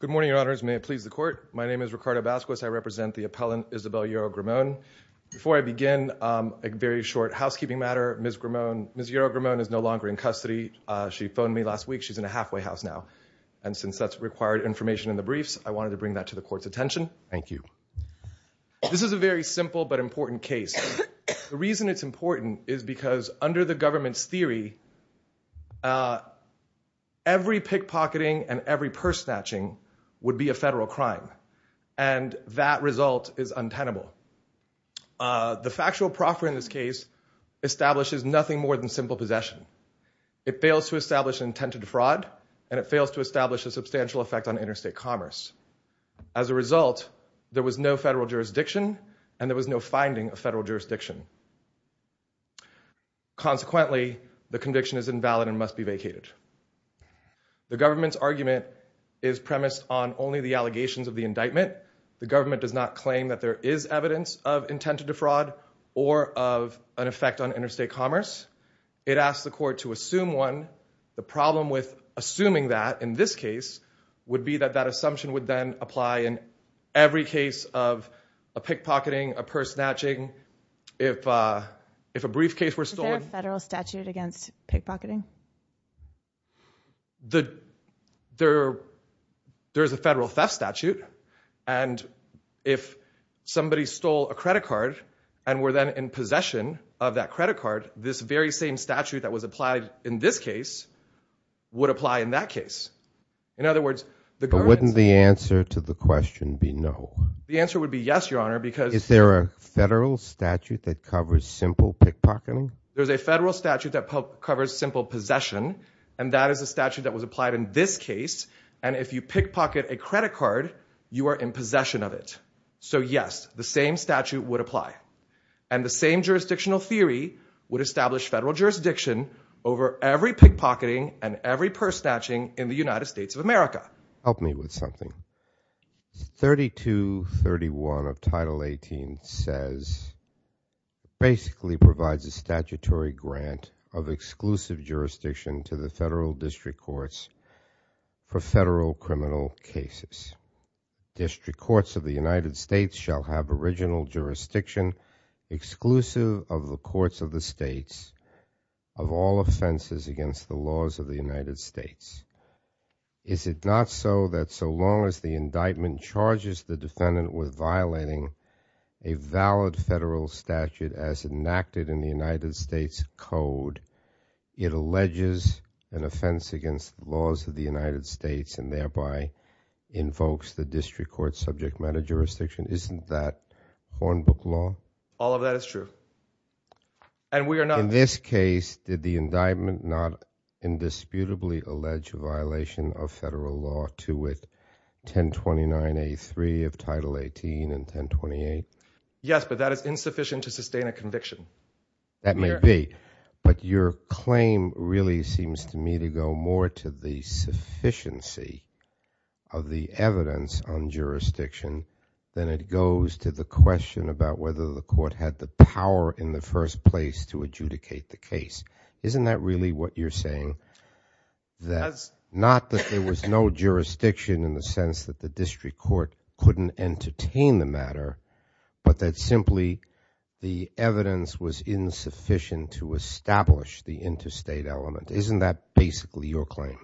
Good morning, your honors. May it please the court. My name is Ricardo Vasquez. I represent the appellant Isabel Yoro Grimon. Before I begin, a very short housekeeping matter. Ms. Grimon, Ms. Yoro Grimon is no longer in custody. She phoned me last week. She's in a halfway house now. And since that's required information in the briefs, I wanted to bring that to the court's attention. Thank you. This is a very simple but important case. The reason it's important is because under the government's theory, every pickpocketing and every purse snatching would be a federal crime. And that result is untenable. The factual proffer in this case establishes nothing more than simple possession. It fails to establish intended fraud, and it fails to establish a substantial effect on interstate commerce. As a result, there was no federal jurisdiction, and there was no finding of federal jurisdiction. Consequently, the conviction is invalid and must be vacated. The government's argument is premised on only the allegations of the indictment. The government does not claim that there is evidence of intended fraud or of an effect on interstate commerce. It asks the court to assume one. The problem with assuming that in this case would be that that assumption would then apply in every case of a pickpocketing, a purse snatching. Is there a federal statute against pickpocketing? There is a federal theft statute. And if somebody stole a credit card and were then in possession of that credit card, this very same statute that was applied in this case would apply in that case. In other words, the government... But wouldn't the answer to the question be no? The answer would be yes, Your Honor, because... Is there a federal statute that covers simple pickpocketing? There's a federal statute that covers simple possession, and that is a statute that was applied in this case. And if you pickpocket a credit card, you are in possession of it. So yes, the same statute would apply. And the same jurisdictional theory would establish federal jurisdiction over every pickpocketing and every purse snatching in the United States of America. Help me with something. 3231 of Title 18 says... Basically provides a statutory grant of exclusive jurisdiction to the federal district courts for federal criminal cases. District courts of the United States shall have original jurisdiction exclusive of the courts of the states of all offenses against the laws of the United States. Is it not so that so long as the indictment charges the defendant with violating a valid federal statute as enacted in the United States Code, it alleges an offense against the laws of the United States and thereby invokes the district court subject matter jurisdiction? Isn't that Hornbook law? All of that is true. And we are not... In this case, did the indictment not indisputably allege a violation of federal law to it? 1029A3 of Title 18 and 1028? Yes, but that is insufficient to sustain a conviction. That may be, but your claim really seems to me to go more to the sufficiency of the evidence on jurisdiction than it goes to the question about whether the court had the power in the first place to adjudicate the case. Isn't that really what you're saying? Not that there was no jurisdiction in the sense that the district court couldn't entertain the matter, but that simply the evidence was insufficient to establish the interstate element. Isn't that basically your claim?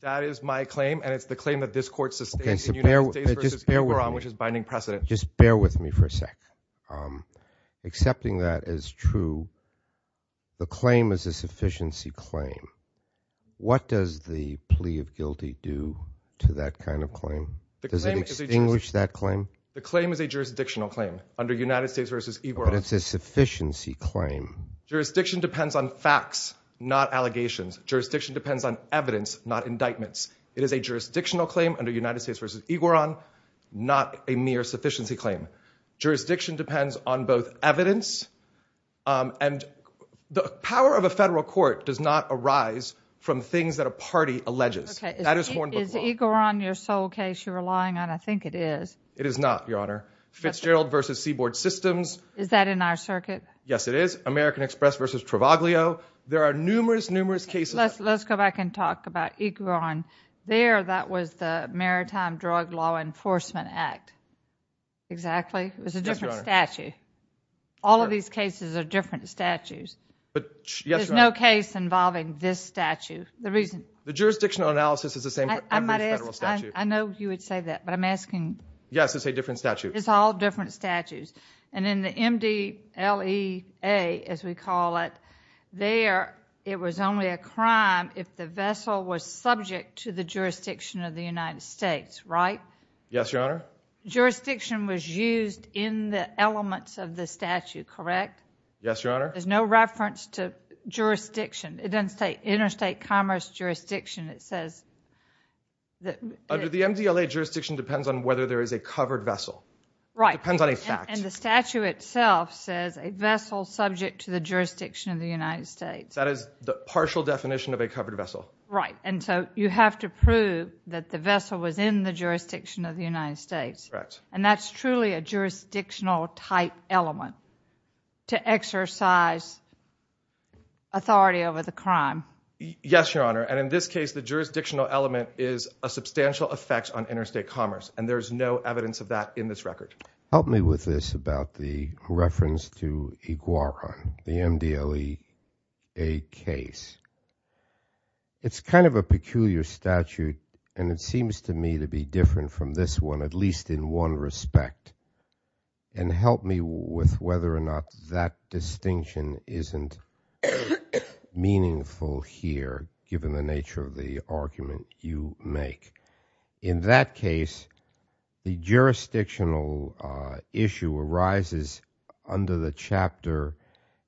That is my claim, and it's the claim that this court sustains in United States v. Yboron, which is binding precedent. Just bear with me for a sec. Accepting that as true, the claim is a sufficiency claim. What does the plea of guilty do to that kind of claim? Does it extinguish that claim? The claim is a jurisdictional claim under United States v. Yboron. But it's a sufficiency claim. Jurisdiction depends on facts, not allegations. Jurisdiction depends on evidence, not indictments. It is a jurisdictional claim under United States v. Yboron, not a mere sufficiency claim. Jurisdiction depends on both evidence and the power of a federal court does not arise from things that a party alleges. Is Yboron your sole case you're relying on? I think it is. It is not, Your Honor. Fitzgerald v. Seaboard Systems. Is that in our circuit? Yes, it is. American Express v. Travaglio. There are numerous, numerous cases. Let's go back and talk about Yboron. There, that was the Maritime Drug Law Enforcement Act. Exactly. It was a different statute. All of these cases are different statutes. There's no case involving this statute. The jurisdictional analysis is the same for every federal statute. I know you would say that, but I'm asking. Yes, it's a different statute. It's all different statutes. And in the MDLEA, as we call it, there, it was only a crime if the vessel was subject to the jurisdiction of the United States, right? Yes, Your Honor. Jurisdiction was used in the elements of the statute, correct? Yes, Your Honor. There's no reference to jurisdiction. It doesn't say interstate commerce jurisdiction. Under the MDLEA, jurisdiction depends on whether there is a covered vessel. Right. It depends on a fact. And the statute itself says a vessel subject to the jurisdiction of the United States. That is the partial definition of a covered vessel. Right. And so you have to prove that the vessel was in the jurisdiction of the United States. And that's truly a jurisdictional type element to exercise authority over the crime. Yes, Your Honor. And in this case, the jurisdictional element is a substantial effect on interstate commerce. And there is no evidence of that in this record. The jurisdictional issue arises under the chapter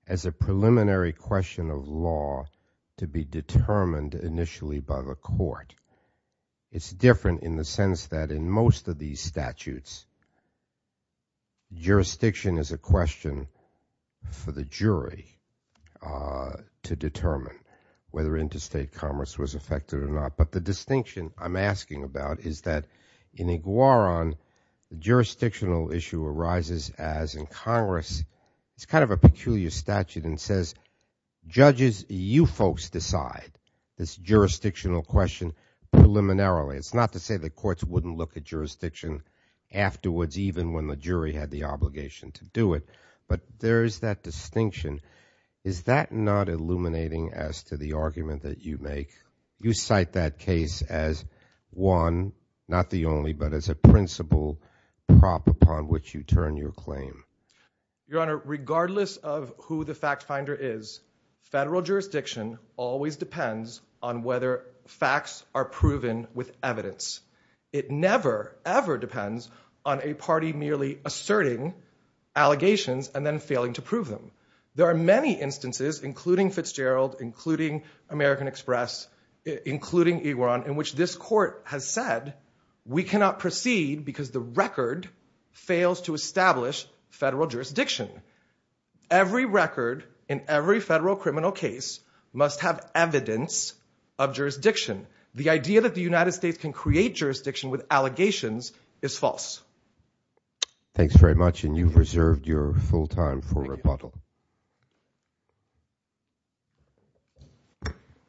as a preliminary question of law to be determined initially by the court. It's different in the sense that in most of these statutes, jurisdiction is a question for the jury to determine whether interstate commerce was affected or not. But the distinction I'm asking about is that in Iguaran, the jurisdictional issue arises as in Congress. It's kind of a peculiar statute and says judges, you folks decide this jurisdictional question preliminarily. It's not to say the courts wouldn't look at jurisdiction afterwards, even when the jury had the obligation to do it. But there is that distinction. Is that not illuminating as to the argument that you make? You cite that case as one, not the only, but as a principal prop upon which you turn your claim. Your Honor, regardless of who the fact finder is, federal jurisdiction always depends on whether facts are proven with evidence. It never, ever depends on a party merely asserting allegations and then failing to prove them. There are many instances, including Fitzgerald, including American Express, including Iguaran, in which this court has said, we cannot proceed because the record fails to establish federal jurisdiction. Every record in every federal criminal case must have evidence of jurisdiction. The idea that the United States can create jurisdiction with allegations is false. Thanks very much, and you've reserved your full time for rebuttal.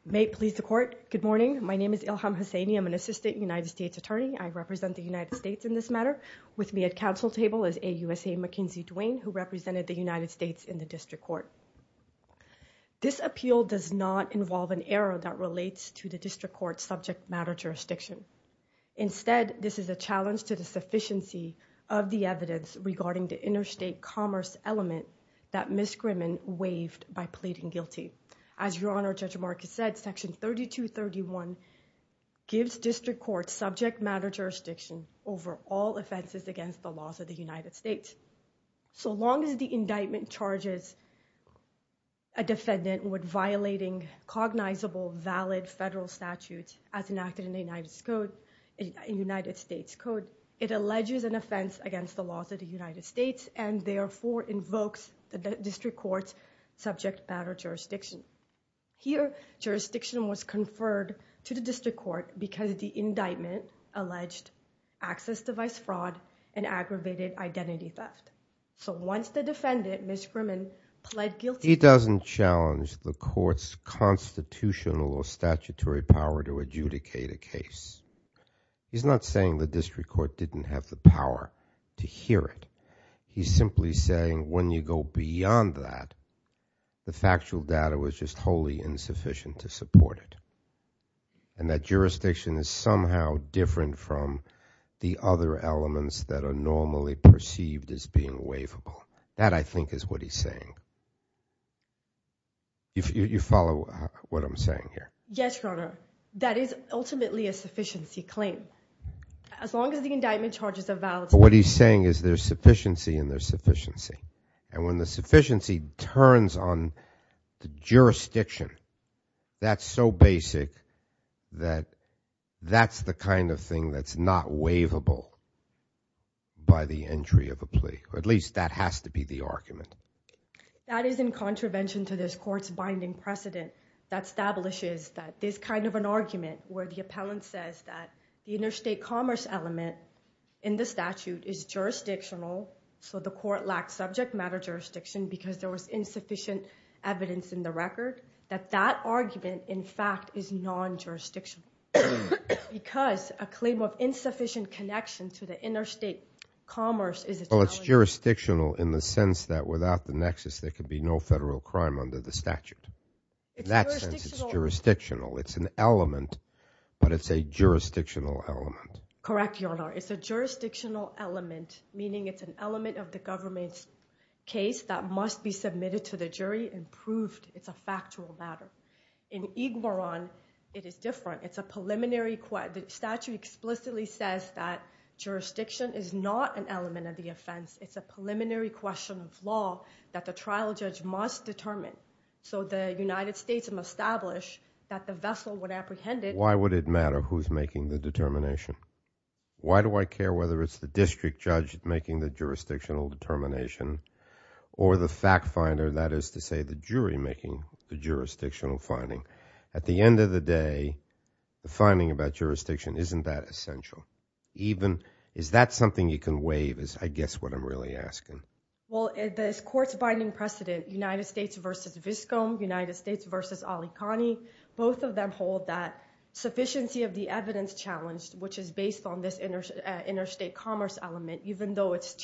May it please the court. Good morning. My name is Ilham Hosseini. I'm an assistant United States attorney. I represent the United States in this matter. With me at counsel table is AUSA Mackenzie Duane, who represented the United States in the district court. This appeal does not involve an error that relates to the district court's subject matter jurisdiction. Instead, this is a challenge to the sufficiency of the evidence regarding the interstate commerce element that Ms. Grimman waived by pleading guilty. As Your Honor, Judge Marcus said, Section 3231 gives district court subject matter jurisdiction over all offenses against the laws of the United States. So long as the indictment charges a defendant with violating cognizable valid federal statutes as enacted in the United States, it alleges an offense against the laws of the United States and therefore invokes the district court's subject matter jurisdiction. Here, jurisdiction was conferred to the district court because the indictment alleged access device fraud and aggravated identity theft. So once the defendant, Ms. Grimman, pled guilty... He's not saying the district court didn't have the power to hear it. He's simply saying when you go beyond that, the factual data was just wholly insufficient to support it. And that jurisdiction is somehow different from the other elements that are normally perceived as being waivable. That, I think, is what he's saying. You follow what I'm saying here? Yes, Your Honor. That is ultimately a sufficiency claim. But what he's saying is there's sufficiency and there's sufficiency. And when the sufficiency turns on the jurisdiction, that's so basic that that's the kind of thing that's not waivable by the entry of a plea. Or at least that has to be the argument. There's kind of an argument where the appellant says that the interstate commerce element in the statute is jurisdictional. So the court lacked subject matter jurisdiction because there was insufficient evidence in the record. That that argument, in fact, is non-jurisdictional. Because a claim of insufficient connection to the interstate commerce... It's jurisdictional in the sense that without the nexus, there could be no federal crime under the statute. In that sense, it's jurisdictional. It's an element, but it's a jurisdictional element. Correct, Your Honor. It's a jurisdictional element, meaning it's an element of the government's case that must be submitted to the jury and proved it's a factual matter. In Iguaran, it is different. It's a preliminary... The statute explicitly says that jurisdiction is not an element of the offense. It's a preliminary question of law that the trial judge must determine. So the United States must establish that the vessel would apprehend it. Why would it matter who's making the determination? Why do I care whether it's the district judge making the jurisdictional determination or the fact finder, that is to say the jury, making the jurisdictional finding? At the end of the day, the finding about jurisdiction isn't that essential. Is that something you can waive is, I guess, what I'm really asking. Well, this court's binding precedent, United States v. Viscom, United States v. Ali Kani, both of them hold that sufficiency of the evidence challenged, which is based on this interstate commerce element, even though it's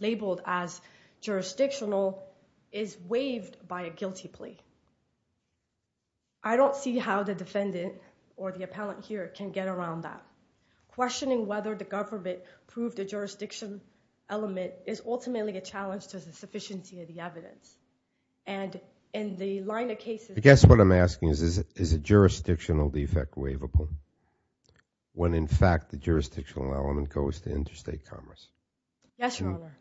labeled as jurisdictional, is waived by a guilty plea. I don't see how the defendant or the appellant here can get around that. It is ultimately a challenge to the sufficiency of the evidence. I guess what I'm asking is, is a jurisdictional defect waivable when, in fact, the jurisdictional element goes to interstate commerce? Yes, Your Honor.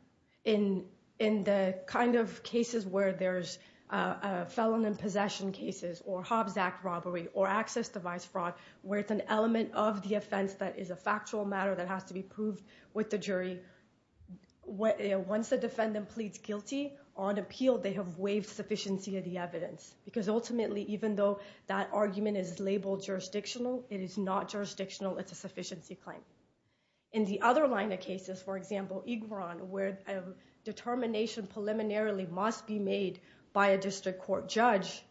In the kind of cases where there's a felon in possession cases or Hobbs Act robbery or access device fraud, where it's an element of the offense that is a factual matter that has to be proved with the jury, once the defendant pleads guilty on appeal, they have waived sufficiency of the evidence. Because ultimately, even though that argument is labeled jurisdictional, it is not jurisdictional. It's a sufficiency claim. In the other line of cases, for example, Egron, where a determination preliminarily must be made by a district court judge,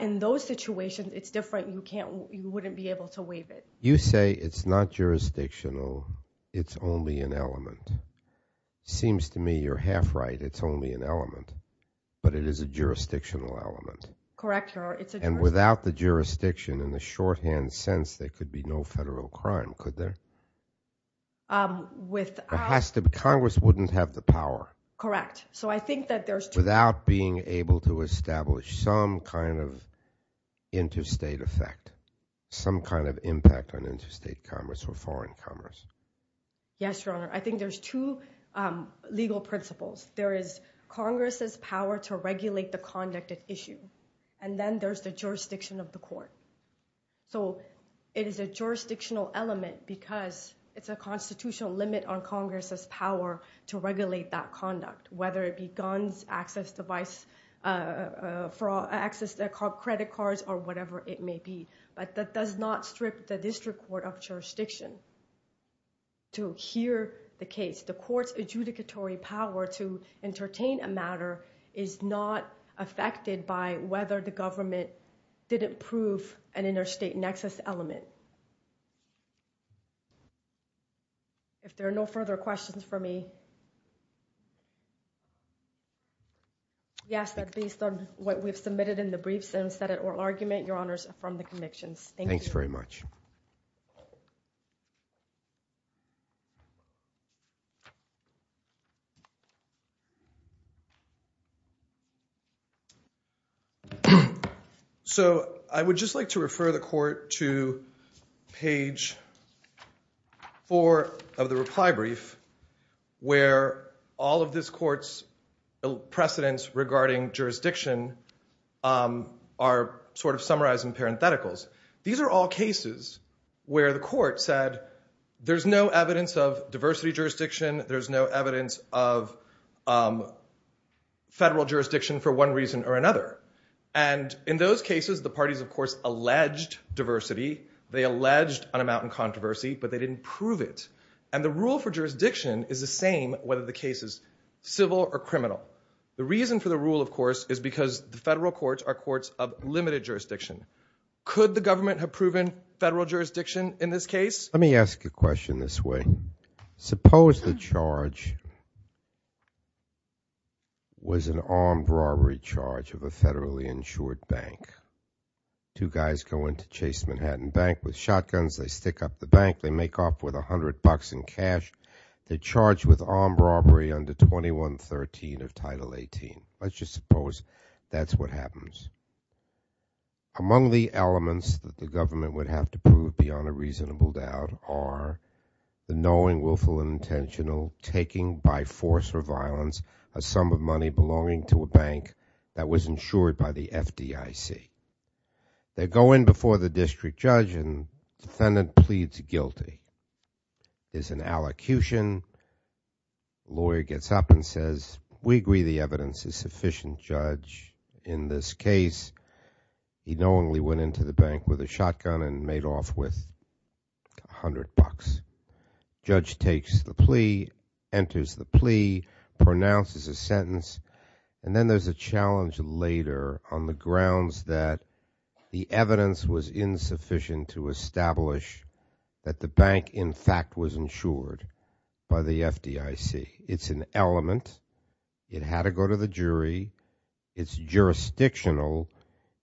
in those situations, it's different. You wouldn't be able to waive it. You say it's not jurisdictional. It's only an element. Seems to me you're half right. It's only an element. But it is a jurisdictional element. Correct, Your Honor. And without the jurisdiction, in the shorthand sense, there could be no federal crime, could there? It has to be. Congress wouldn't have the power. Correct. So I think that there's two. Without being able to establish some kind of interstate effect, some kind of impact on interstate commerce or foreign commerce. Yes, Your Honor. I think there's two legal principles. There is Congress's power to regulate the conduct at issue. And then there's the jurisdiction of the court. So it is a jurisdictional element because it's a constitutional limit on Congress's power to regulate that conduct, whether it be guns, access to credit cards or whatever it may be. But that does not strip the district court of jurisdiction to hear the case. The court's adjudicatory power to entertain a matter is not affected by whether the government didn't prove an interstate nexus element. If there are no further questions for me. Yes, based on what we've submitted in the briefs and said at oral argument, Your Honor, I affirm the convictions. Thanks very much. So I would just like to refer the court to page four of the reply brief where all of this court's legal precedents regarding jurisdiction are sort of summarized in parentheticals. These are all cases where the court said there's no evidence of diversity jurisdiction. There's no evidence of federal jurisdiction for one reason or another. And in those cases, the parties, of course, alleged diversity. They alleged an amount in controversy, but they didn't prove it. And the rule for jurisdiction is the same whether the case is civil or criminal. The reason for the rule, of course, is because the federal courts are courts of limited jurisdiction. Could the government have proven federal jurisdiction in this case? Suppose the charge was an armed robbery charge of a federally insured bank. Two guys go into Chase Manhattan Bank with shotguns. They stick up the bank. They make off with $100 in cash. They charge with armed robbery under 2113 of Title 18. Let's just suppose that's what happens. Among the elements that the government would have to prove beyond a reasonable doubt are the knowing, willful, and intentional taking by force or violence a sum of money belonging to a bank that was insured by the FDIC. They go in before the district judge, and the defendant pleads guilty. There's an allocution. The lawyer gets up and says, we agree the evidence is sufficient, Judge. In this case, he knowingly went into the bank with a shotgun and made off with $100. Judge takes the plea, enters the plea, pronounces a sentence, and then there's a challenge later on the grounds that the evidence was insufficient to establish that the bank, in fact, was insured by the FDIC. It's an element. It had to go to the jury. It's jurisdictional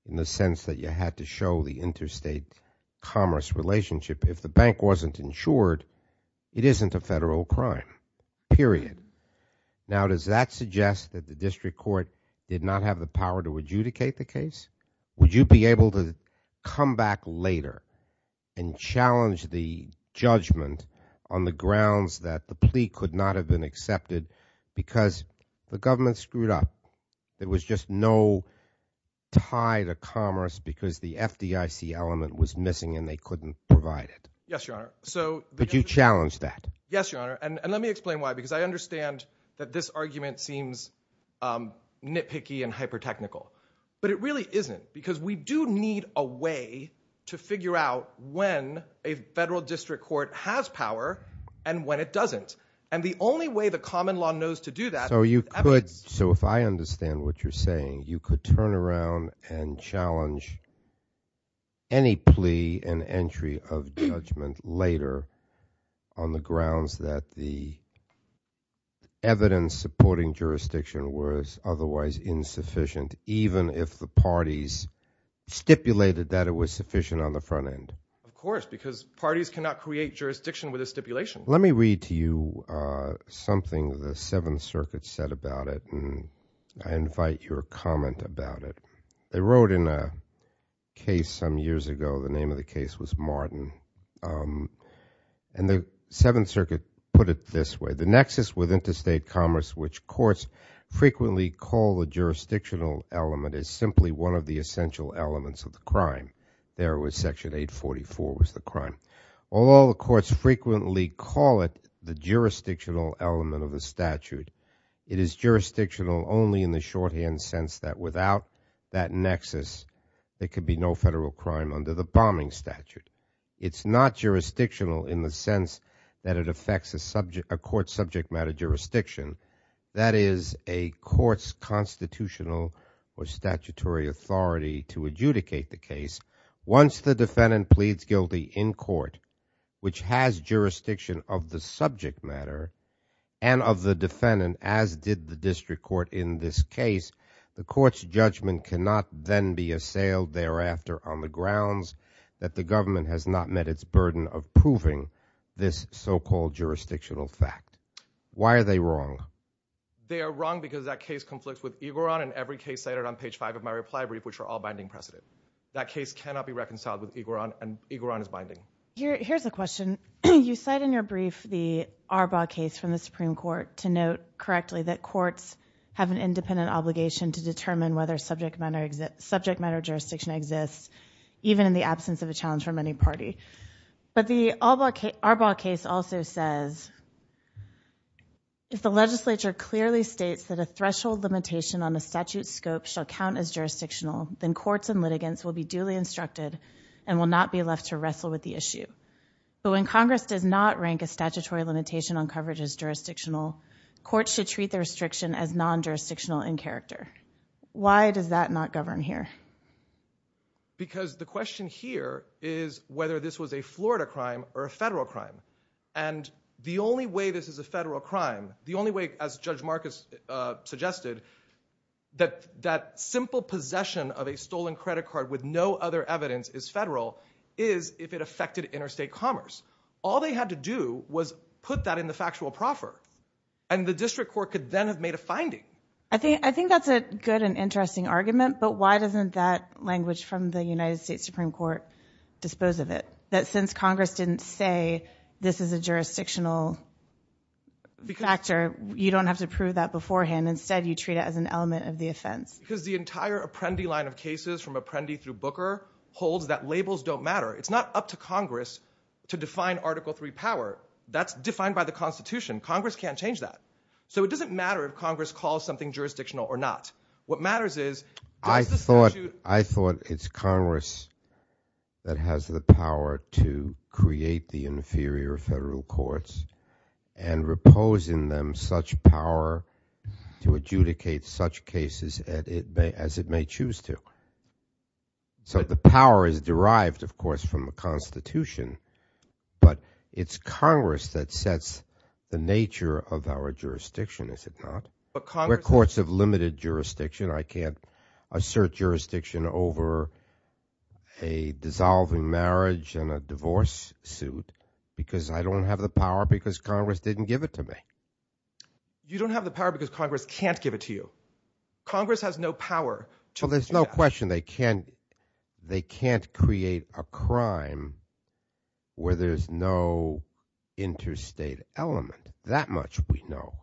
in the sense that you had to show the interstate commerce relationship. If the bank wasn't insured, it isn't a federal crime, period. Now, does that suggest that the district court did not have the power to adjudicate the case? Would you be able to come back later and challenge the judgment on the grounds that the plea could not have been accepted because the government screwed up? There was just no tie to commerce because the FDIC element was missing and they couldn't provide it? Yes, Your Honor. But you challenged that? Yes, Your Honor, and let me explain why. Because I understand that this argument seems nitpicky and hyper-technical, but it really isn't because we do need a way to figure out when a federal district court has power and when it doesn't. And the only way the common law knows to do that is evidence. So if I understand what you're saying, you could turn around and challenge any plea and entry of judgment later on the grounds that the evidence supporting jurisdiction was otherwise insufficient even if the parties stipulated that it was sufficient on the front end? Of course, because parties cannot create jurisdiction with a stipulation. Let me read to you something the Seventh Circuit said about it and I invite your comment about it. They wrote in a case some years ago, the name of the case was Martin, and the Seventh Circuit put it this way. The nexus with interstate commerce, which courts frequently call a jurisdictional element, is simply one of the essential elements of the crime. There was Section 844 was the crime. Although the courts frequently call it the jurisdictional element of the statute, it is jurisdictional only in the shorthand sense that without that nexus, there could be no federal crime under the bombing statute. It's not jurisdictional in the sense that it affects a court subject matter jurisdiction. That is a court's constitutional or statutory authority to adjudicate the case. Once the defendant pleads guilty in court, which has jurisdiction of the subject matter and of the defendant as did the district court in this case, the court's judgment cannot then be assailed thereafter on the grounds that the government has not met its burden of proving this so-called jurisdictional fact. Why are they wrong? They are wrong because that case conflicts with Igoron and every case cited on page 5 of my reply brief, which are all binding precedent. That case cannot be reconciled with Igoron and Igoron is binding. Here's a question. You cite in your brief the Arbaugh case from the Supreme Court to note correctly that courts have an independent obligation to determine whether subject matter jurisdiction exists even in the absence of a challenge from any party. But the Arbaugh case also says, if the legislature clearly states that a threshold limitation on a statute scope shall count as jurisdictional, then courts and litigants will be duly instructed and will not be left to wrestle with the issue. But when Congress does not rank a statutory limitation on coverage as jurisdictional, courts should treat the restriction as non-jurisdictional in character. Why does that not govern here? Because the question here is whether this was a Florida crime or a federal crime. And the only way this is a federal crime, the only way, as Judge Marcus suggested, that that simple possession of a stolen credit card with no other evidence is federal is if it affected interstate commerce. All they had to do was put that in the factual proffer. And the district court could then have made a finding. I think that's a good and interesting argument, but why doesn't that language from the United States Supreme Court dispose of it? That since Congress didn't say this is a jurisdictional factor, you don't have to prove that beforehand. Instead, you treat it as an element of the offense. Because the entire Apprendi line of cases from Apprendi through Booker holds that labels don't matter. It's not up to Congress to define Article III power. That's defined by the Constitution. Congress can't change that. So it doesn't matter if Congress calls something jurisdictional or not. I thought it's Congress that has the power to create the inferior federal courts and repose in them such power to adjudicate such cases as it may choose to. So the power is derived, of course, from the Constitution. But it's Congress that sets the nature of our jurisdiction, is it not? We're courts of limited jurisdiction. I can't assert jurisdiction over a dissolving marriage and a divorce suit because I don't have the power because Congress didn't give it to me. You don't have the power because Congress can't give it to you. Congress has no power to change that. Well, there's no question they can't create a crime where there's no interstate element. That much we know.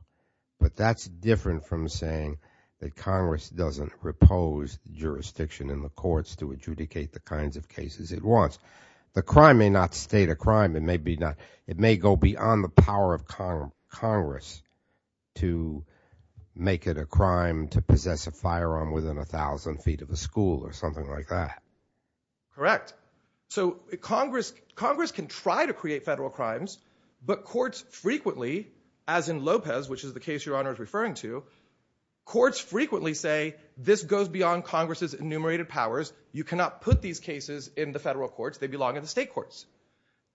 But that's different from saying that Congress doesn't repose jurisdiction in the courts to adjudicate the kinds of cases it wants. The crime may not state a crime. It may go beyond the power of Congress to make it a crime to possess a firearm within 1,000 feet of a school or something like that. Correct. So Congress can try to create federal crimes, but courts frequently, as in Lopez, which is the case Your Honor is referring to, courts frequently say this goes beyond Congress's enumerated powers. You cannot put these cases in the federal courts. They belong in the state courts.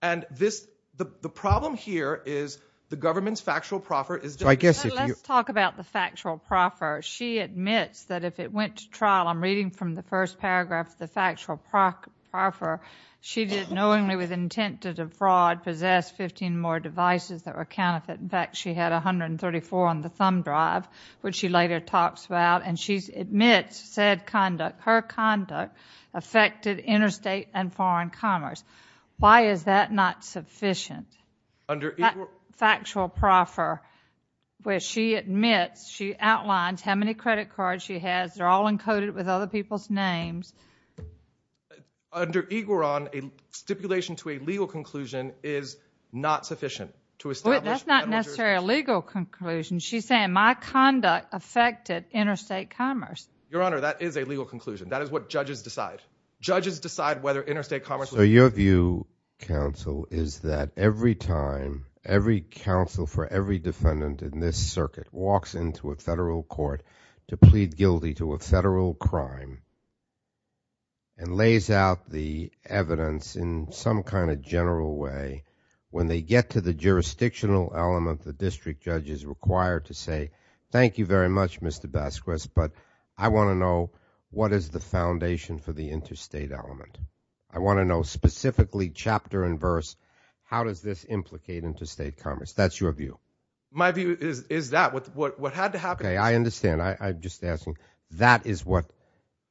And the problem here is the government's factual proffer is different. Let's talk about the factual proffer. She admits that if it went to trial, I'm reading from the first paragraph, the factual proffer, she did knowingly with intent to defraud, possess 15 more devices that were counterfeit. In fact, she had 134 on the thumb drive, which she later talks about. And she admits said conduct, her conduct, affected interstate and foreign commerce. Why is that not sufficient? Under each one? Factual proffer, where she admits, she outlines how many credit cards she has. They're all encoded with other people's names. Under Igoron, a stipulation to a legal conclusion is not sufficient to establish Wait, that's not necessarily a legal conclusion. She's saying my conduct affected interstate commerce. Your Honor, that is a legal conclusion. That is what judges decide. Judges decide whether interstate commerce was So your view, counsel, is that every time every counsel for every defendant in this circuit walks into a federal court to plead guilty to a federal crime and lays out the evidence in some kind of general way, when they get to the jurisdictional element, the district judge is required to say, Thank you very much, Mr. Basquez, but I want to know, what is the foundation for the interstate element? I want to know specifically chapter and verse, how does this implicate interstate commerce? That's your view. My view is that what had to happen Okay, I understand. I'm just asking. That is what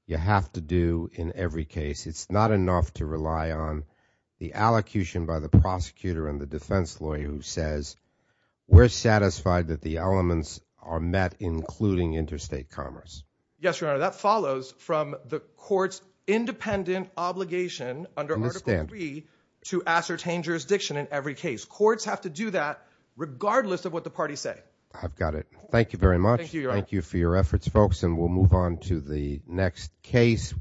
you have to do in every case. It's not enough to rely on the allocution by the prosecutor and the defense lawyer who says we're satisfied that the elements are met, including interstate commerce. Yes, Your Honor. That follows from the court's independent obligation under Article III to ascertain jurisdiction in every case. Courts have to do that regardless of what the parties say. I've got it. Thank you very much. Thank you, Your Honor. Thank you for your efforts, folks, and we'll move on to the next case.